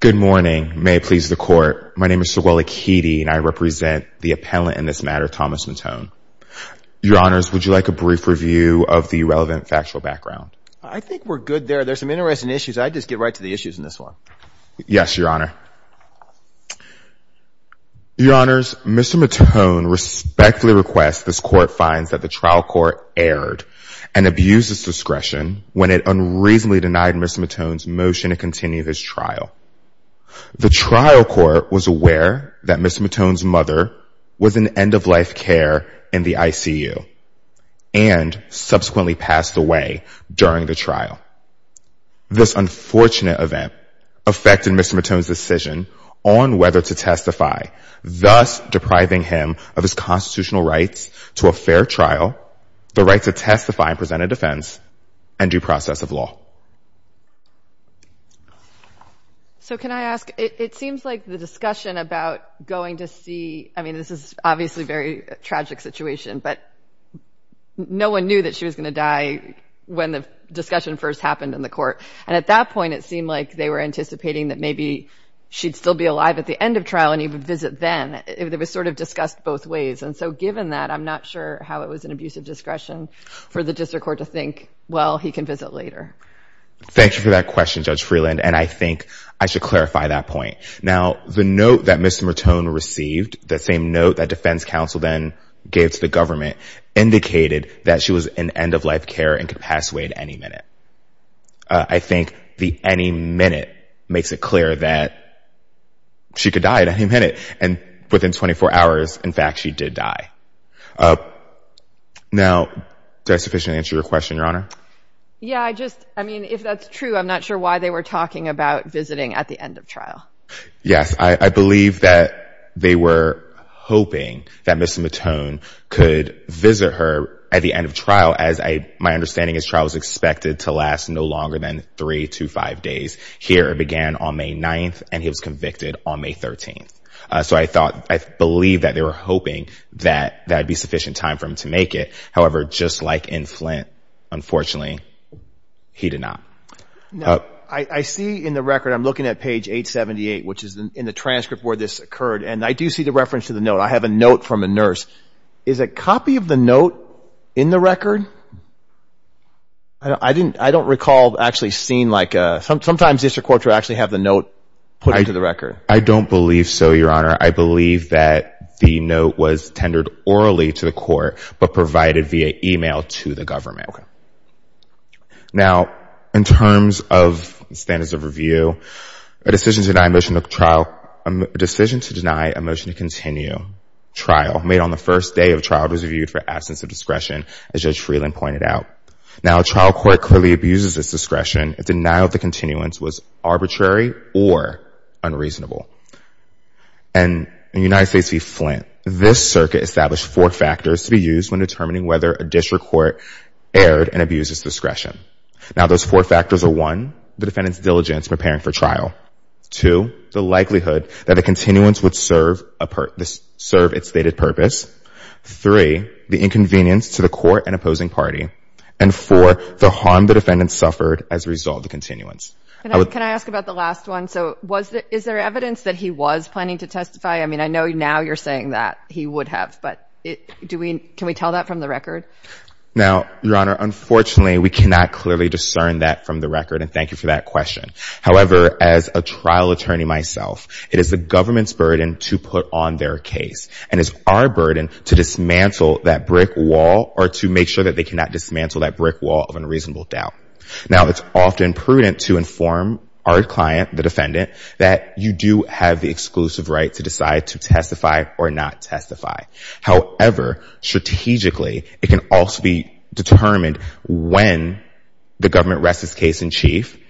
Good morning. May it please the court. My name is Saweli Keedy and I represent the appellant in this matter, Thomas Mautone. Your Honors, would you like a brief review of the relevant factual background? I think we're good there. There's some interesting issues. I just get right to the issues in this one. Yes, Your Honor. Your Honors, Mr. Mautone respectfully requests this court finds that the trial court erred and abused its discretion when it unreasonably denied Mr. Mautone's motion to continue this trial. The trial court was aware that Mr. Mautone's mother was in end-of-life care in the ICU and subsequently passed away during the trial. This unfortunate event affected Mr. Mautone's decision on whether to testify, thus depriving him of his constitutional rights to a fair trial, the right to testify and present a defense, and due process of law. So can I ask, it seems like the discussion about going to see, I mean this is obviously a very tragic situation, but no one knew that she was going to die when the discussion first happened in the court. And at that point it seemed like they were anticipating that maybe she'd still be alive at the end of trial and he would visit then. It was sort of discussed both ways. And so given that, I'm not sure how it was an abuse of discretion for the district court to think, well, he can visit later. Thank you for that question, Judge Freeland. And I think I should clarify that point. Now, the note that Mr. Mautone received, the same note that defense counsel then gave to the government, indicated that she was in could pass away at any minute. I think the any minute makes it clear that she could die at any minute. And within 24 hours, in fact, she did die. Now, did I sufficiently answer your question, Your Honor? Yeah, I just, I mean, if that's true, I'm not sure why they were talking about visiting at the end of trial. Yes, I believe that they were hoping that Mr. Mautone could visit her at the end of trial, as I, my understanding, his trial was expected to last no longer than three to five days. Here it began on May 9th and he was convicted on May 13th. So I thought, I believe that they were hoping that that'd be sufficient time for him to make it. However, just like in Flint, unfortunately he did not. Now, I see in the record, I'm looking at page 878, which is in the transcript where this occurred. And I do see the note. I have a note from a nurse. Is a copy of the note in the record? I didn't, I don't recall actually seeing like a, sometimes district courts will actually have the note put into the record. I don't believe so, Your Honor. I believe that the note was tendered orally to the court, but provided via email to the government. Okay. Now, in terms of standards of review, a decision to deny a motion to trial, a decision to deny a motion to continue trial made on the first day of trial was reviewed for absence of discretion, as Judge Freeland pointed out. Now, a trial court clearly abuses its discretion. A denial of the continuance was arbitrary or unreasonable. And in United States v. Flint, this circuit established four factors to be used when determining whether a district court erred and abuses discretion. Now, those four factors are one, the defendant's diligence preparing for trial. Two, the likelihood that a continuance would serve its stated purpose. Three, the inconvenience to the court and opposing party. And four, the harm the defendant suffered as a result of the continuance. Can I ask about the last one? So, is there evidence that he was planning to testify? I mean, I know now you're saying that he would have, but do we, can we tell that from the record? Now, Your Honor, unfortunately, we cannot clearly discern that from the record, and thank you for that question. However, as a trial attorney myself, it is the government's burden to put on their case and it's our burden to dismantle that brick wall or to make sure that they cannot dismantle that brick wall of unreasonable doubt. Now, it's often prudent to inform our client, the defendant, that you do have the exclusive right to decide to testify or not testify. However, strategically, it can also be determined when the government rests its case in chief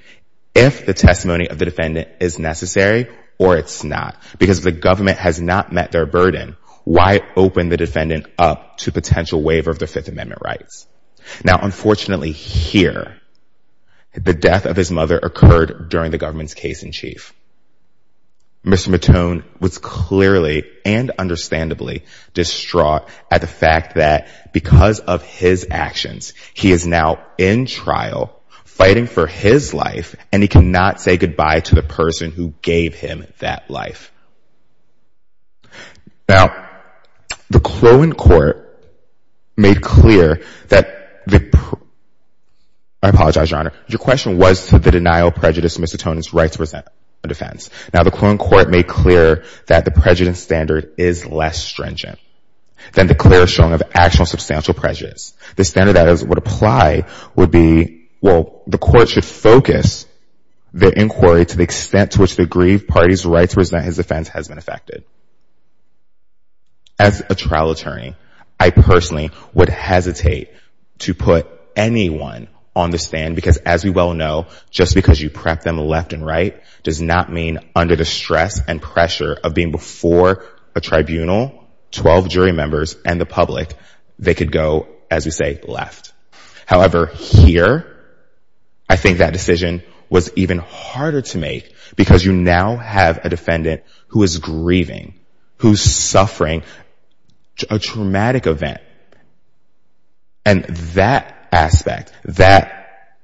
if the testimony of the defendant is necessary or it's not. Because if the government has not met their burden, why open the defendant up to potential waiver of their Fifth Amendment rights? Now, unfortunately, here, the death of his mother occurred during the government's case in chief. Mr. Matone was clearly and understandably distraught at the fact that because of his actions, he is now in trial fighting for his life and he cannot say goodbye to the person who gave him that life. Now, the Clohan court made clear that the, I apologize, Your Honor, your question was the denial of prejudice in Mr. Matone's right to present a defense. Now, the Clohan court made clear that the prejudice standard is less stringent than the clear showing of actual substantial prejudice. The standard that would apply would be, well, the court should focus the inquiry to the extent to which the aggrieved party's right to present his defense has been affected. As a trial attorney, I personally would hesitate to put anyone on the stand because, as we well know, just because you prep them left and right does not mean under the stress and pressure of being before a tribunal, 12 jury members, and the public, they could go, as we say, left. However, here, I think that decision was even harder to make because you now have a defendant who is grieving, who's suffering a traumatic event, and that aspect, that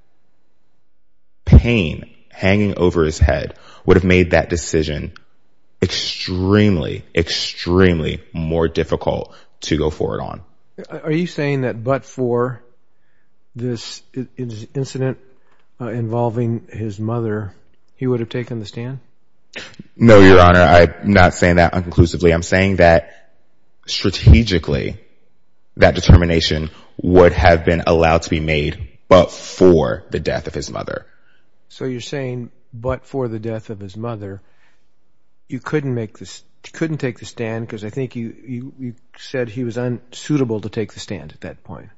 pain hanging over his head would have made that decision extremely, extremely more difficult to go forward on. Are you saying that but for this incident involving his mother, he would have taken the stand? No, Your Honor. I'm not saying that unconclusively. I'm saying that strategically, that determination would have been allowed to be made but for the death of his mother. So you're saying but for the death of his mother, you couldn't take the stand because I think you said he was unsuitable to take the stand at that point.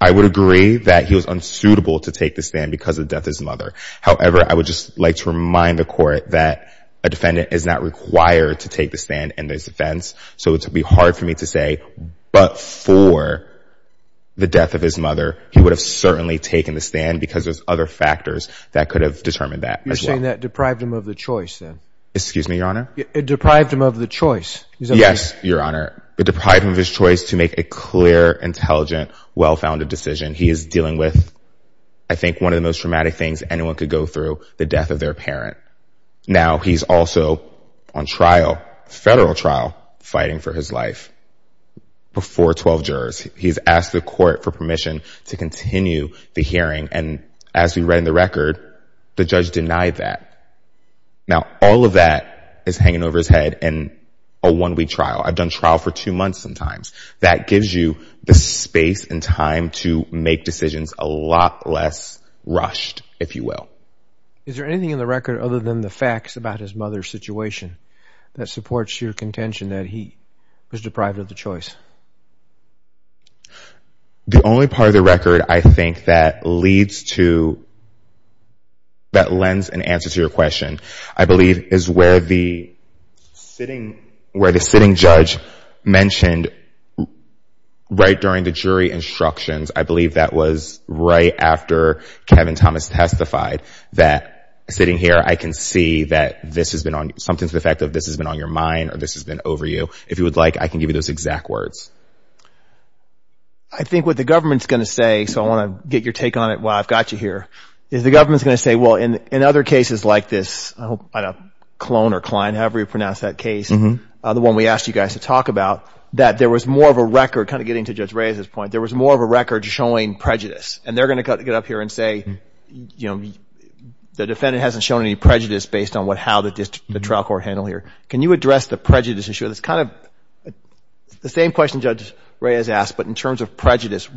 I would agree that he was unsuitable to take the stand because of the death of his mother. However, I would just like to remind the court that a defendant is not required to take the stand in this offense. So it would be hard for me to say but for the death of his mother, he would have certainly taken the stand because there's other factors that could have determined that. You're saying that deprived him of the choice then? Excuse me, Your Honor? It deprived him of the choice. Yes, Your Honor. It deprived him of his well-founded decision. He is dealing with, I think, one of the most traumatic things anyone could go through, the death of their parent. Now he's also on trial, federal trial, fighting for his life before 12 jurors. He's asked the court for permission to continue the hearing and as we read in the record, the judge denied that. Now all of that is hanging over his head in a one-week trial. I've done trial for two months sometimes. That gives you the space and time to make decisions a lot less rushed, if you will. Is there anything in the record other than the facts about his mother's situation that supports your contention that he was deprived of the choice? The only part of the record I think that lends an answer to your question, I believe, is where the sitting judge mentioned right during the jury instructions, I believe that was right after Kevin Thomas testified, that sitting here I can see that this has been on, something to the effect of this has been on your mind or this has been over you. If you would like, I can give you those exact words. I think what the government's going to say, so I want to get your take on it while I've got you here, is the government's going to say, well, in other cases like this, I don't know, Clone or Klein, however you pronounce that case, the one we asked you guys to talk about, that there was more of a record, kind of getting to Judge Reyes's point, there was more of a record showing prejudice. And they're going to get up here and say, you know, the defendant hasn't shown any prejudice based on how the trial court handled here. Can you address the prejudice issue? That's kind of the same question Judge Reyes asked, but in terms of prejudice,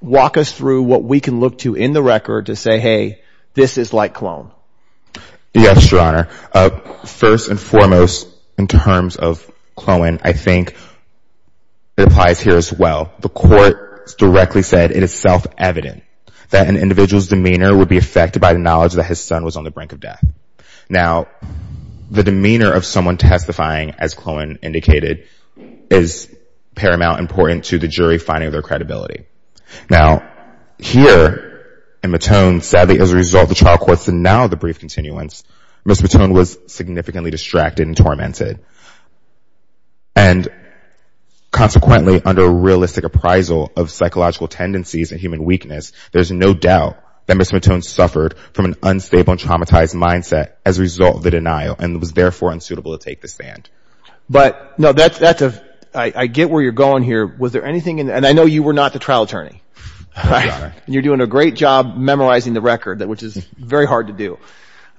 walk us through what we can look to in the record to say, hey, this is like Clone. Yes, Your Honor. First and foremost, in terms of Clone, I think it applies here as well. The court directly said it is self-evident that an individual's demeanor would be affected by the knowledge that his son was on the brink of death. Now, the demeanor of someone testifying, as Clone indicated, is paramount and important to the jury finding their credibility. Now, here in Matone, sadly, as a result of the trial court's denial of the brief continuance, Ms. Matone was significantly distracted and tormented. And consequently, under realistic appraisal of psychological tendencies and human weakness, there's no doubt that Ms. Matone suffered from an unstable and traumatized mindset as a result of the denial and was therefore unsuitable to take this stand. But, no, that's a, I get where you're going here. Was there anything in, and I know you were not the trial attorney. You're doing a great job memorizing the record, which is very hard to do.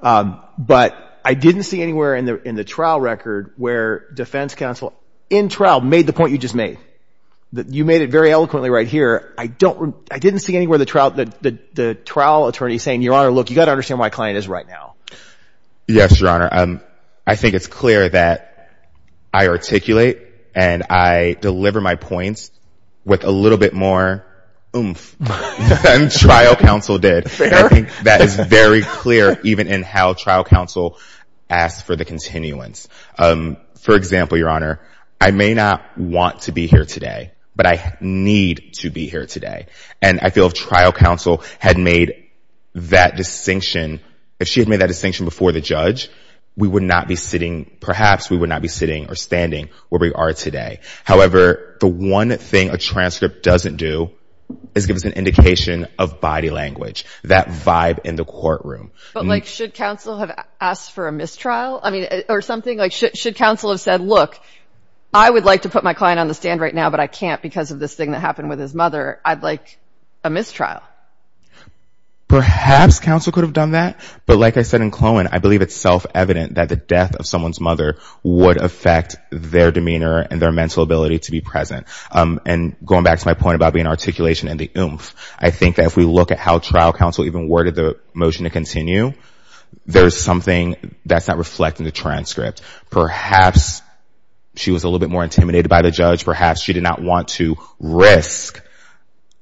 But I didn't see anywhere in the trial record where defense counsel, in trial, made the point you just made. You made it very eloquently right here. I don't, I didn't see anywhere the trial, the trial attorney saying, Your Honor, look, you got to understand my client is right now. Yes, Your Honor. I think it's clear that I articulate and I deliver my points with a little bit more oomph than trial counsel did. I think that is very clear even in how trial counsel asks for the continuance. For example, Your Honor, I may not want to be here today, but I need to be here today. And I feel if trial counsel had made that distinction, if she had made that distinction before the judge, we would not be sitting, perhaps we would not be sitting or standing where we are today. However, the one thing a transcript doesn't do is give us an indication of body language, that vibe in the courtroom. But like, should counsel have asked for a mistrial? I mean, or something like, should counsel have said, Look, I would like to put my client on the stand right now, but I can't because of this thing that happened with his mother. I'd like a mistrial. Perhaps counsel could have done that. But like I said in Clowen, I believe it's self-evident that the death of someone's mother would affect their demeanor and their mental ability to be present. And going back to my point about being articulation and the oomph, I think that if we look at how trial counsel even worded the motion to continue, there's something that's not reflecting the transcript. Perhaps she was a little bit more intimidated by the judge. Perhaps she did not want to risk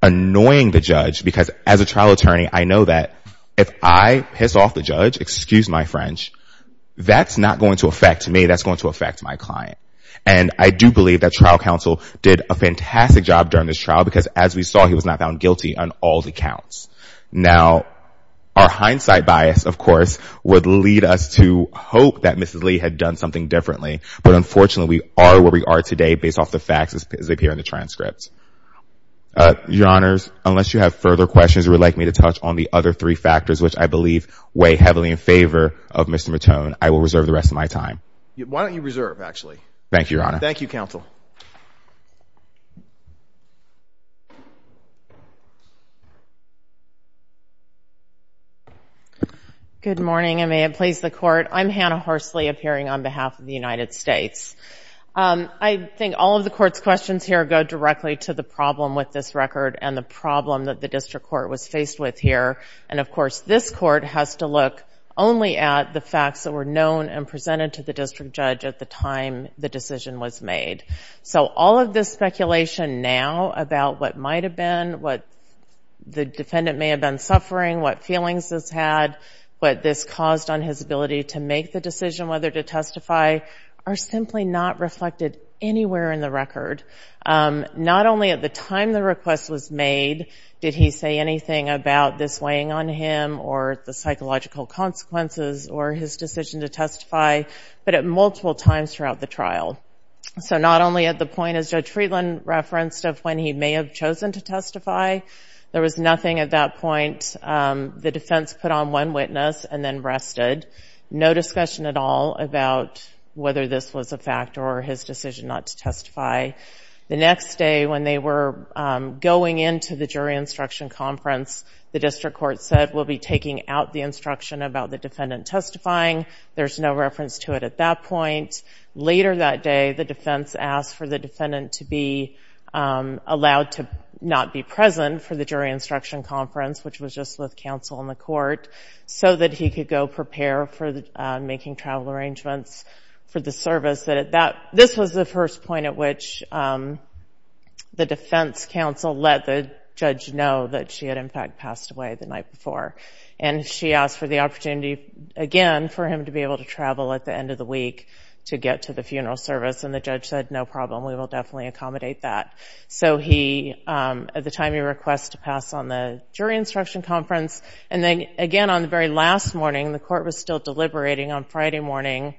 annoying the judge because as a trial attorney, I know that if I piss off the judge, excuse my French, that's not going to affect me. That's going to affect my client. And I do believe that trial counsel did a fantastic job during this trial because as we saw, he was not found guilty on all the counts. Now, our hindsight bias, of course, would lead us to hope that Mrs. Lee had done something differently. But unfortunately, we are where we are today based off the facts as we appear in the transcripts. Your Honors, unless you have further questions or would like me to touch on the other three factors, which I believe weigh heavily in favor of Mr. Matone, I will reserve the rest of my time. Why don't you reserve, actually? Thank you, Your Honor. Thank you, counsel. Good morning, and may it please the Court. I'm Hannah Horsley appearing on behalf of the United States. I think all of the Court's questions here go directly to the problem with this record and the problem that the District Court was faced with here. And of course, this Court has to look only at the facts that were known and presented to the District Judge at the time the decision was made. So all of this speculation now about what might have been, what the defendant may have been suffering, what feelings this had, what this caused on his ability to make the decision whether to testify, are simply not reflected anywhere in the record. Not only at the time the request was made did he say anything about this weighing on him or the psychological consequences or his decision to testify, but at multiple times throughout the trial. So not only at the point, as Judge Friedland referenced, of when he may have chosen to testify, there was nothing at that point. The about whether this was a fact or his decision not to testify. The next day when they were going into the jury instruction conference, the District Court said, we'll be taking out the instruction about the defendant testifying. There's no reference to it at that point. Later that day, the defense asked for the defendant to be allowed to not be present for the jury instruction conference, which was just with counsel in the court, so that he could go prepare for making travel arrangements for the service. This was the first point at which the defense counsel let the judge know that she had in fact passed away the night before. And she asked for the opportunity again for him to be able to travel at the end of the week to get to the funeral service. And the judge said, no problem, we will definitely accommodate that. So he, at the time he requested to pass on the jury instruction conference. And then again, on the very last morning, the court was still deliberating on Friday morning.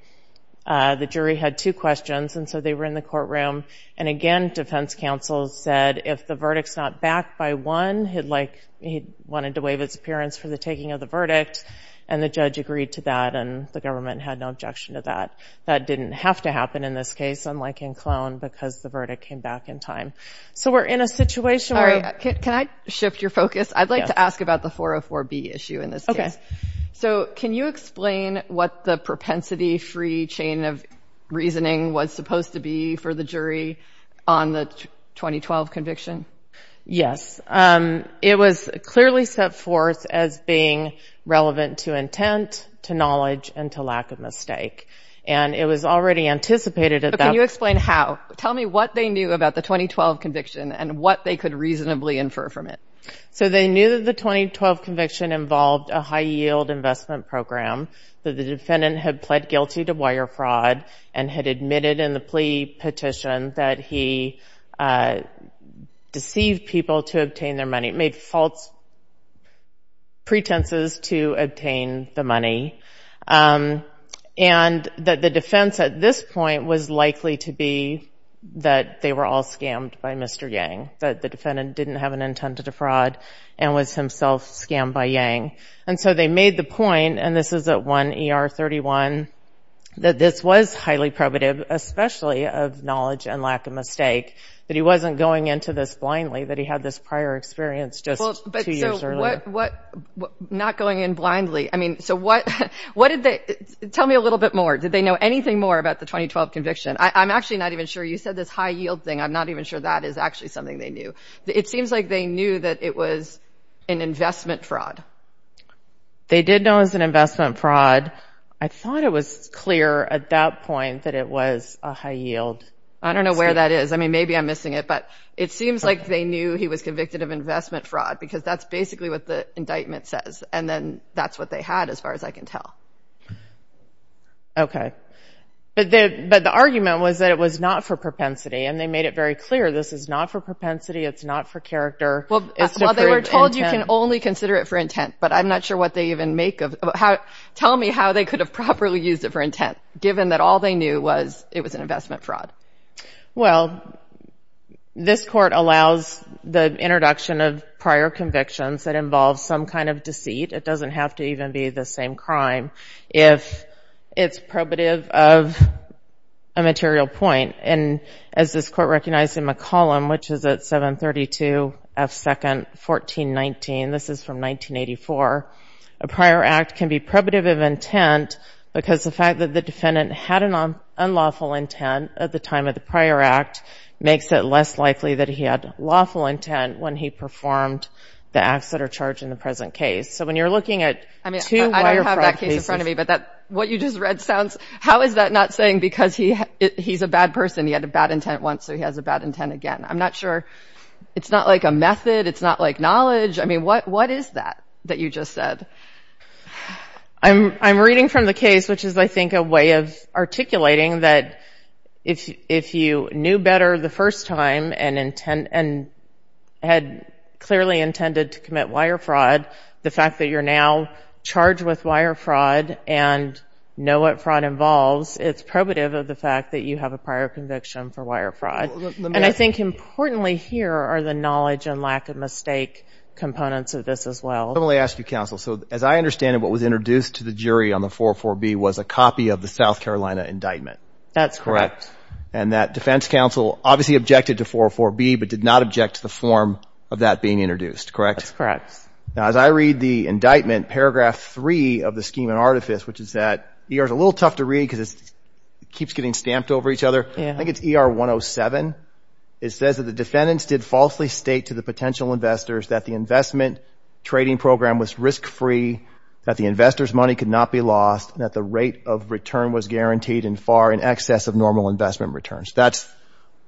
The jury had two questions, and so they were in the courtroom. And again, defense counsel said, if the verdict's not backed by one, he'd like, he wanted to waive his appearance for the taking of the verdict. And the judge agreed to that, and the government had no objection to that. That didn't have to happen in this case, unlike in Clone, because the verdict came back in time. So we're in a situation where- All right, can I shift your focus? I'd like to ask about the 404B issue in this case. So can you explain what the propensity-free chain of reasoning was supposed to be for the jury on the 2012 conviction? Yes. It was clearly set forth as being relevant to intent, to knowledge, and to lack of mistake. And it was already anticipated at that- Can you explain how? Tell me what they knew about the 2012 conviction, and what they could reasonably infer from it. So they knew that the 2012 conviction involved a high-yield investment program, that the defendant had pled guilty to wire fraud, and had admitted in the plea petition that he deceived people to obtain their money, made false pretenses to obtain the money. And that the defense at this point was likely to be that they were all scammed by Mr. Yang, that the defendant didn't have an intent to defraud, and was himself scammed by Yang. And so they made the point, and this is at 1 ER 31, that this was highly probative, especially of knowledge and lack of mistake, that he wasn't going into this blindly, that he had this prior experience just two years earlier. Not going in blindly. I mean, so what did they- tell me a little bit more. Did they know anything more about the 2012 conviction? I'm actually not even sure. You said this high-yield thing. I'm not even sure that is actually something they knew. It seems like they knew that it was an investment fraud. They did know it was an investment fraud. I thought it was clear at that point that it was a high-yield. I don't know where that is. I mean, maybe I'm missing it. But it seems like they knew he was convicted of investment fraud, because that's basically what the indictment says. And then that's what they had, as far as I can tell. Okay. But the argument was that it was not for propensity, and they made it very clear this is not for propensity, it's not for character. Well, they were told you can only consider it for intent, but I'm not sure what they even make of- tell me how they could have properly used it for intent, given that all they knew was it was an investment fraud. Well, this court allows the introduction of prior convictions that involve some kind of deceit. It doesn't have to even be the same crime if it's probative of a material point. And as this court recognized in McCollum, which is at 732 F. 2nd, 1419, this is from 1984, a prior act can be probative of intent because the fact that the defendant had an unlawful intent at the time of the prior act makes it less likely that he had lawful intent when he performed the acts that are charged in the present case. So when you're looking at- I mean, I don't have that case in front of me, but what you just read sounds- how is that not saying because he's a bad person, he had a bad intent once, so he has a bad intent again? I'm not sure. It's not like a method. It's not like knowledge. I mean, what is that, that you just said? I'm reading from the case, which is, I think, a way of articulating that if you knew better the first time and had clearly intended to commit wire fraud, the fact that you're now charged with wire fraud and know what fraud involves, it's probative of the fact that you have a prior conviction for wire fraud. And I think importantly here are the knowledge and lack of mistake components of this as well. Let me ask you, as I understand it, what was introduced to the jury on the 404B was a copy of the South Carolina indictment. That's correct. And that defense counsel obviously objected to 404B, but did not object to the form of that being introduced, correct? That's correct. Now, as I read the indictment, paragraph three of the scheme and artifice, which is that ER is a little tough to read because it keeps getting stamped over each other. I think it's ER 107. It says that the defendants did falsely state to the potential investors that the investment trading program was risk-free, that the investors' money could not be lost, and that the rate of return was guaranteed and far in excess of normal investment returns. That's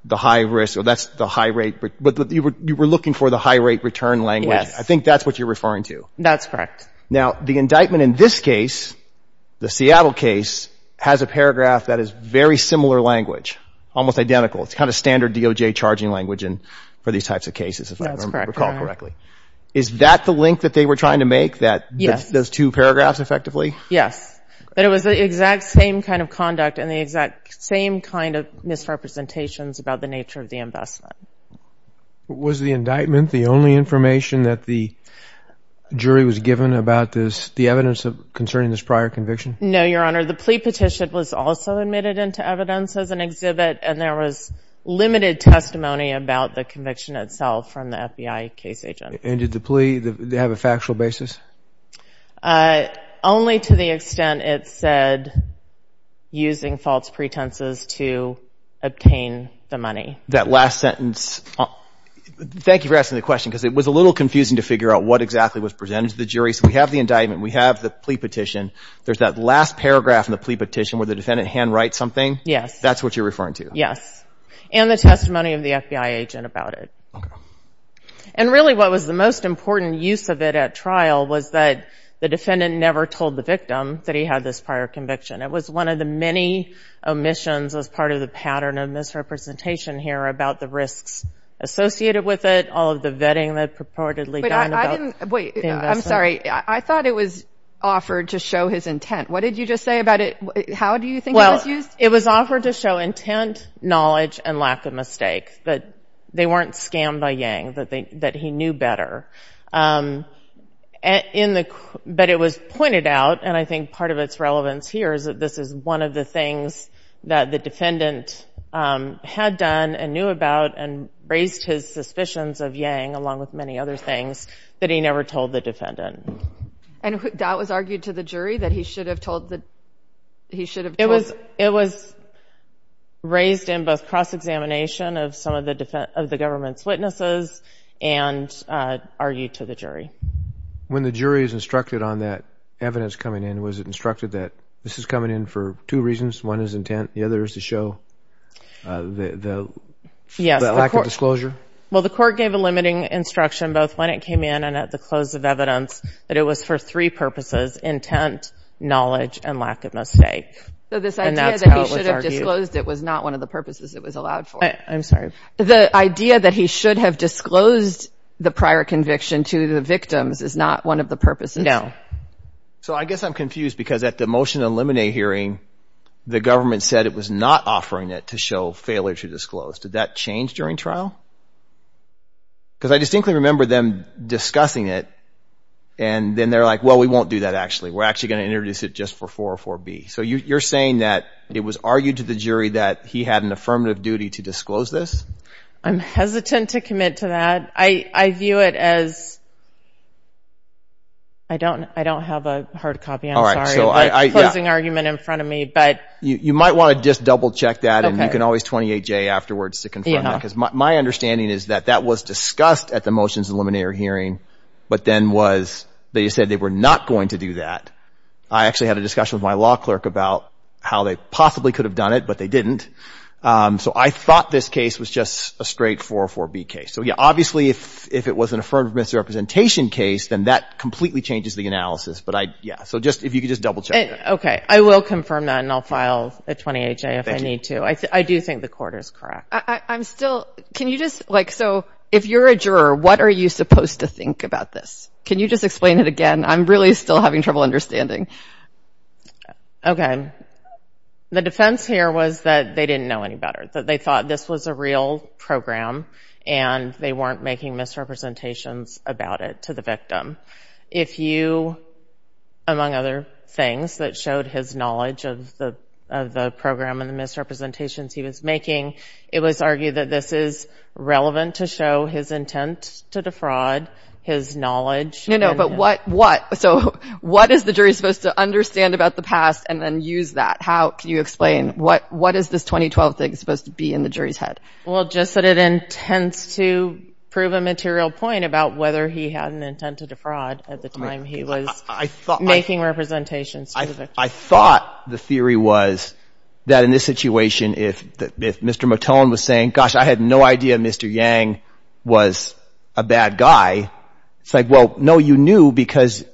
the high risk or that's the high rate, but you were looking for the high rate return language. I think that's what you're referring to. That's correct. Now, the indictment in this case, the Seattle case, has a paragraph that is very similar language, almost identical. It's kind of standard DOJ charging language for these types of cases, if I recall correctly. Is that the link that they were trying to make? Those two paragraphs, effectively? Yes, but it was the exact same kind of conduct and the exact same kind of misrepresentations about the nature of the investment. Was the indictment the only information that the jury was given about the evidence concerning this prior conviction? No, Your Honor. The plea petition was also admitted into evidence as an exhibit, and there was limited testimony about the conviction itself from the FBI case agent. And did the plea have a factual basis? Only to the extent it said using false pretenses to obtain the money. That last sentence, thank you for asking the question because it was a little confusing to figure out what exactly was presented to the jury. So, we have the indictment, we have the plea petition, there's that last paragraph in the plea petition where the defendant hand writes something? Yes. That's what you're referring to? Yes, and the testimony of the FBI agent about it. Okay. And really what was the most important use of it at trial was that the defendant never told the victim that he had this prior conviction. It was one of the many omissions as part of the pattern of misrepresentation here about the risks associated with it, all of the vetting that purportedly done about the investment. Wait, I'm sorry. I thought it was offered to show his intent. What did you just say about it? How do you think it was used? Well, it was offered to show intent, knowledge, and lack of mistake, that they weren't scammed by Yang, that he knew better. But it was pointed out, and I think part of its relevance here is that this is one of the things that the defendant had done and knew about and raised his suspicions of Yang along with many other things that he never told the defendant. And that was argued to the jury that he should have told- It was raised in both cross-examination of some of the government's witnesses and argued to the jury. When the jury is instructed on that evidence coming in, was it instructed that this is coming in for two reasons? One is intent, the other is to show the lack of disclosure? Well, the court gave a limiting instruction both when it came in and at the close of evidence that it was for three purposes, intent, knowledge, and lack of mistake. So this idea that he should have disclosed it was not one of the purposes it was allowed for? I'm sorry. The idea that he should have disclosed the prior conviction to the victims is not one of the purposes? No. So I guess I'm confused because at the motion to eliminate hearing, the government said it was not offering it to show failure to disclose. Did that change during trial? Because I distinctly remember them discussing it and then they're like, well, we won't do that actually. We're actually going to introduce it just for 404B. So you're saying that it was argued to the jury that he had an affirmative duty to disclose this? I'm hesitant to commit to that. I view it as- I don't have a hard copy. I'm sorry. All right. So I- Closing argument in front of me, but- You might want to just double check that and you can always 28J afterwards to confirm that. My understanding is that that was discussed at the motions to eliminate hearing, but then was- they said they were not going to do that. I actually had a discussion with my law clerk about how they possibly could have done it, but they didn't. So I thought this case was just a straight 404B case. So yeah, obviously if it was an affirmative misrepresentation case, then that completely changes the analysis. But I- yeah. So just- if you could just double check that. Okay. I will confirm that and I'll file a 28J if I need to. I do think the quarter is correct. I'm still- can you just- like, so if you're a juror, what are you supposed to think about this? Can you just explain it again? I'm really still having trouble understanding. Okay. The defense here was that they didn't know any better, that they thought this was a real program and they weren't making misrepresentations about it to the victim. If you, among other things, that showed his knowledge of the program and the misrepresentations he was making, it was argued that this is relevant to show his intent to defraud, his knowledge. No, no. But what- so what is the jury supposed to understand about the past and then use that? How- can you explain? What is this 2012 thing supposed to be in the jury's head? Well, just that it intends to prove a material point about whether he had an intent to defraud at the time he was making representations to the victim. I thought the theory was that in this situation, if Mr. Matone was saying, gosh, I had no idea Mr. Yang was a bad guy, it's like, well, no, you knew because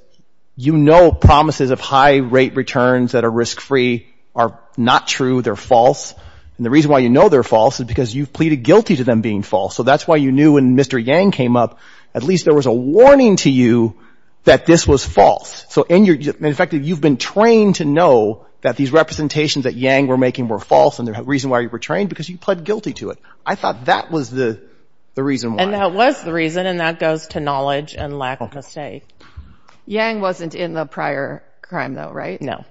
you know promises of high rate returns that are risk-free are not true, they're false. And the reason why you know they're false is because you've pleaded guilty to them being false. So that's why you knew when Mr. Yang came up, at least there was a warning to you that this was to know that these representations that Yang were making were false and the reason why you were trained because you pled guilty to it. I thought that was the reason why. And that was the reason, and that goes to knowledge and lack of a say. Yang wasn't in the prior crime, though, right? No.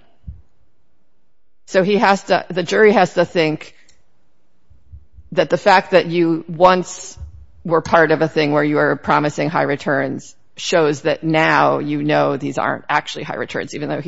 So he has to- the jury has to think that the fact that you once were part of a thing where you were promising high returns shows that now you know these aren't actually high returns, even though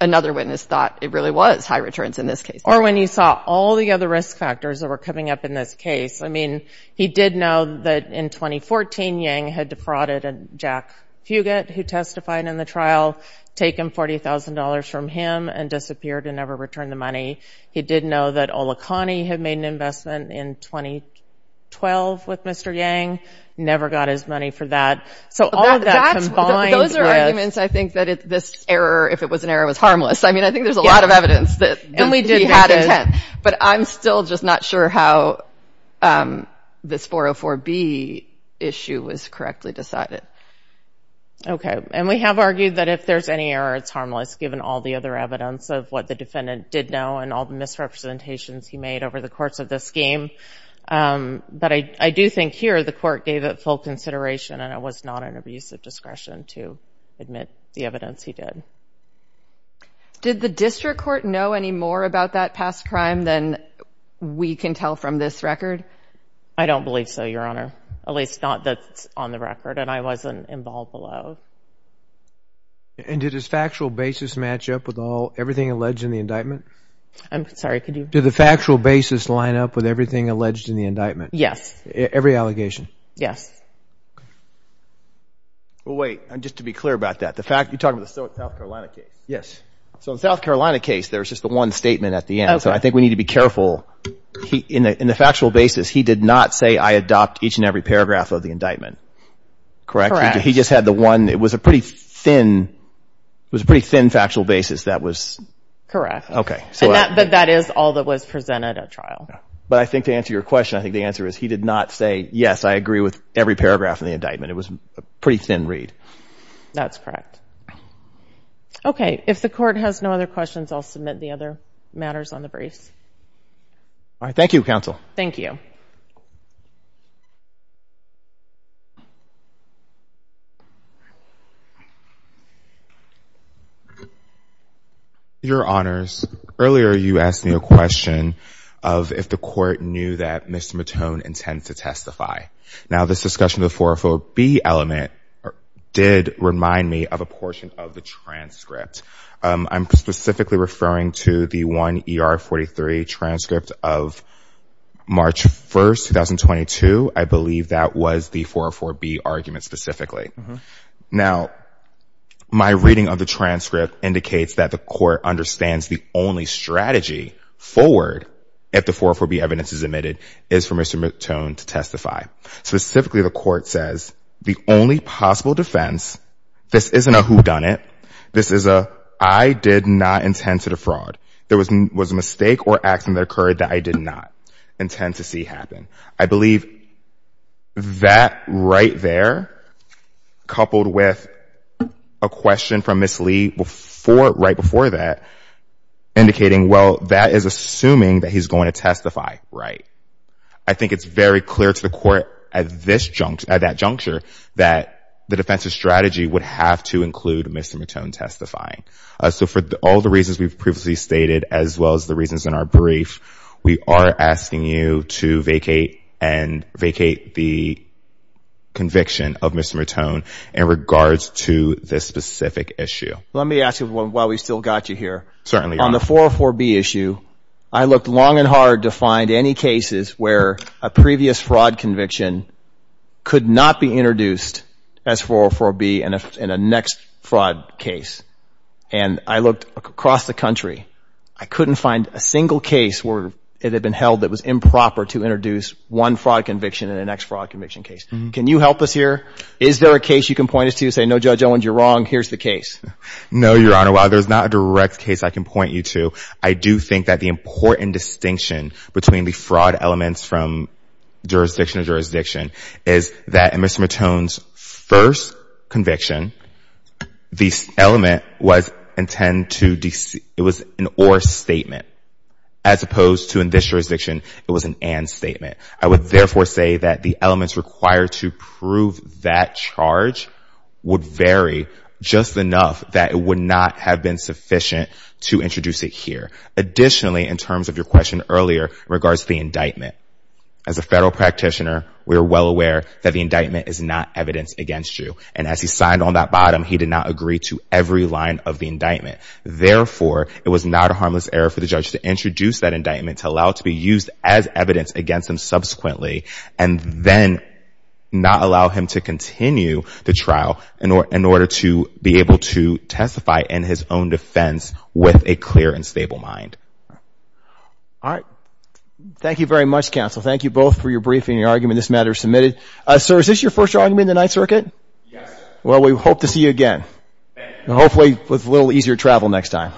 another witness thought it really was high returns in this case. Or when you saw all the other risk factors that were coming up in this case. I mean, he did know that in 2014, Yang had defrauded Jack Fugate, who testified in the trial, taken $40,000 from him and disappeared and never returned the money. He did know that Ola Kani had made an investment in 2012 with Mr. Yang, never got his money for that. So all that combined is- Those are arguments, I think, that this error, if it was an error, was harmless. I mean, I think there's a lot of evidence that he had intent, but I'm still just not sure how this 404B issue was correctly decided. Okay. And we have argued that if there's any error, it's harmless, given all the other evidence of what the defendant did know and all the misrepresentations he made over the course of this game. But I do think here the court gave it full consideration and it was not an abuse of discretion to admit the evidence he did. Did the district court know any more about that past crime than we can tell from this record? I don't believe so, Your Honor. At least not that it's on the record and I wasn't involved below. And did his factual basis match up with everything alleged in the indictment? I'm sorry, could you- Did the factual basis line up with everything alleged in the indictment? Yes. Every allegation? Yes. Well, wait, just to be clear about that, you're talking about the South Carolina case? Yes. So the South Carolina case, there's just the one statement at the end, so I think we need to be careful. In the factual basis, he did not say, I adopt each and every paragraph of the indictment, correct? He just had the one, it was a pretty thin, it was a pretty thin factual basis that was- Correct. But that is all that was presented at trial. But I think to answer your question, I think the answer is he did not say, yes, I agree with every paragraph in the indictment. It was a pretty thin read. That's correct. Okay. If the court has no other questions, I'll submit the other matters on the briefs. All right. Thank you, counsel. Thank you. Thank you. Your honors, earlier you asked me a question of if the court knew that Mr. Matone intends to testify. Now this discussion of the 404B element did remind me of a portion of the transcript. I'm specifically referring to the 1ER43 transcript of March 1st, 2022. I believe that was the 404B argument specifically. Now, my reading of the transcript indicates that the court understands the only strategy forward if the 404B evidence is admitted is for Mr. Matone to testify. Specifically, the court says the only possible defense, this isn't a whodunit. This is a I did not intend to defraud. There was a mistake or action that occurred that I did not intend to see happen. I believe that right there, coupled with a question from Ms. Lee right before that, indicating, well, that is assuming that he's going to testify, right? I think it's very clear to the court at that juncture that the strategy would have to include Mr. Matone testifying. So for all the reasons we've previously stated, as well as the reasons in our brief, we are asking you to vacate and vacate the conviction of Mr. Matone in regards to this specific issue. Let me ask you while we still got you here. Certainly. On the 404B issue, I looked long and hard to find any cases where a previous fraud conviction could not be introduced as 404B in a next fraud case. And I looked across the country. I couldn't find a single case where it had been held that was improper to introduce one fraud conviction in the next fraud conviction case. Can you help us here? Is there a case you can point us to say, no, Judge Owens, you're wrong. Here's the case. No, Your Honor. While there's not a direct case I can point you to, I do think that the important distinction between the fraud elements from jurisdiction is that in Mr. Matone's first conviction, the element was an or statement, as opposed to in this jurisdiction, it was an and statement. I would therefore say that the elements required to prove that charge would vary just enough that it would not have been sufficient to introduce it here. Additionally, in terms of your question earlier in regards to the indictment, as a federal practitioner, we are well aware that the indictment is not evidence against you. And as he signed on that bottom, he did not agree to every line of the indictment. Therefore, it was not a harmless error for the judge to introduce that indictment to allow it to be used as evidence against him subsequently, and then not allow him to continue the trial in order to be able to testify in his own defense with a clear and stable mind. All right. Thank you very much, counsel. Thank you both for your briefing and your argument. This matter is submitted. Sir, is this your first argument in the Ninth Circuit? Yes. Well, we hope to see you again. Thank you. And hopefully with a little easier travel next time.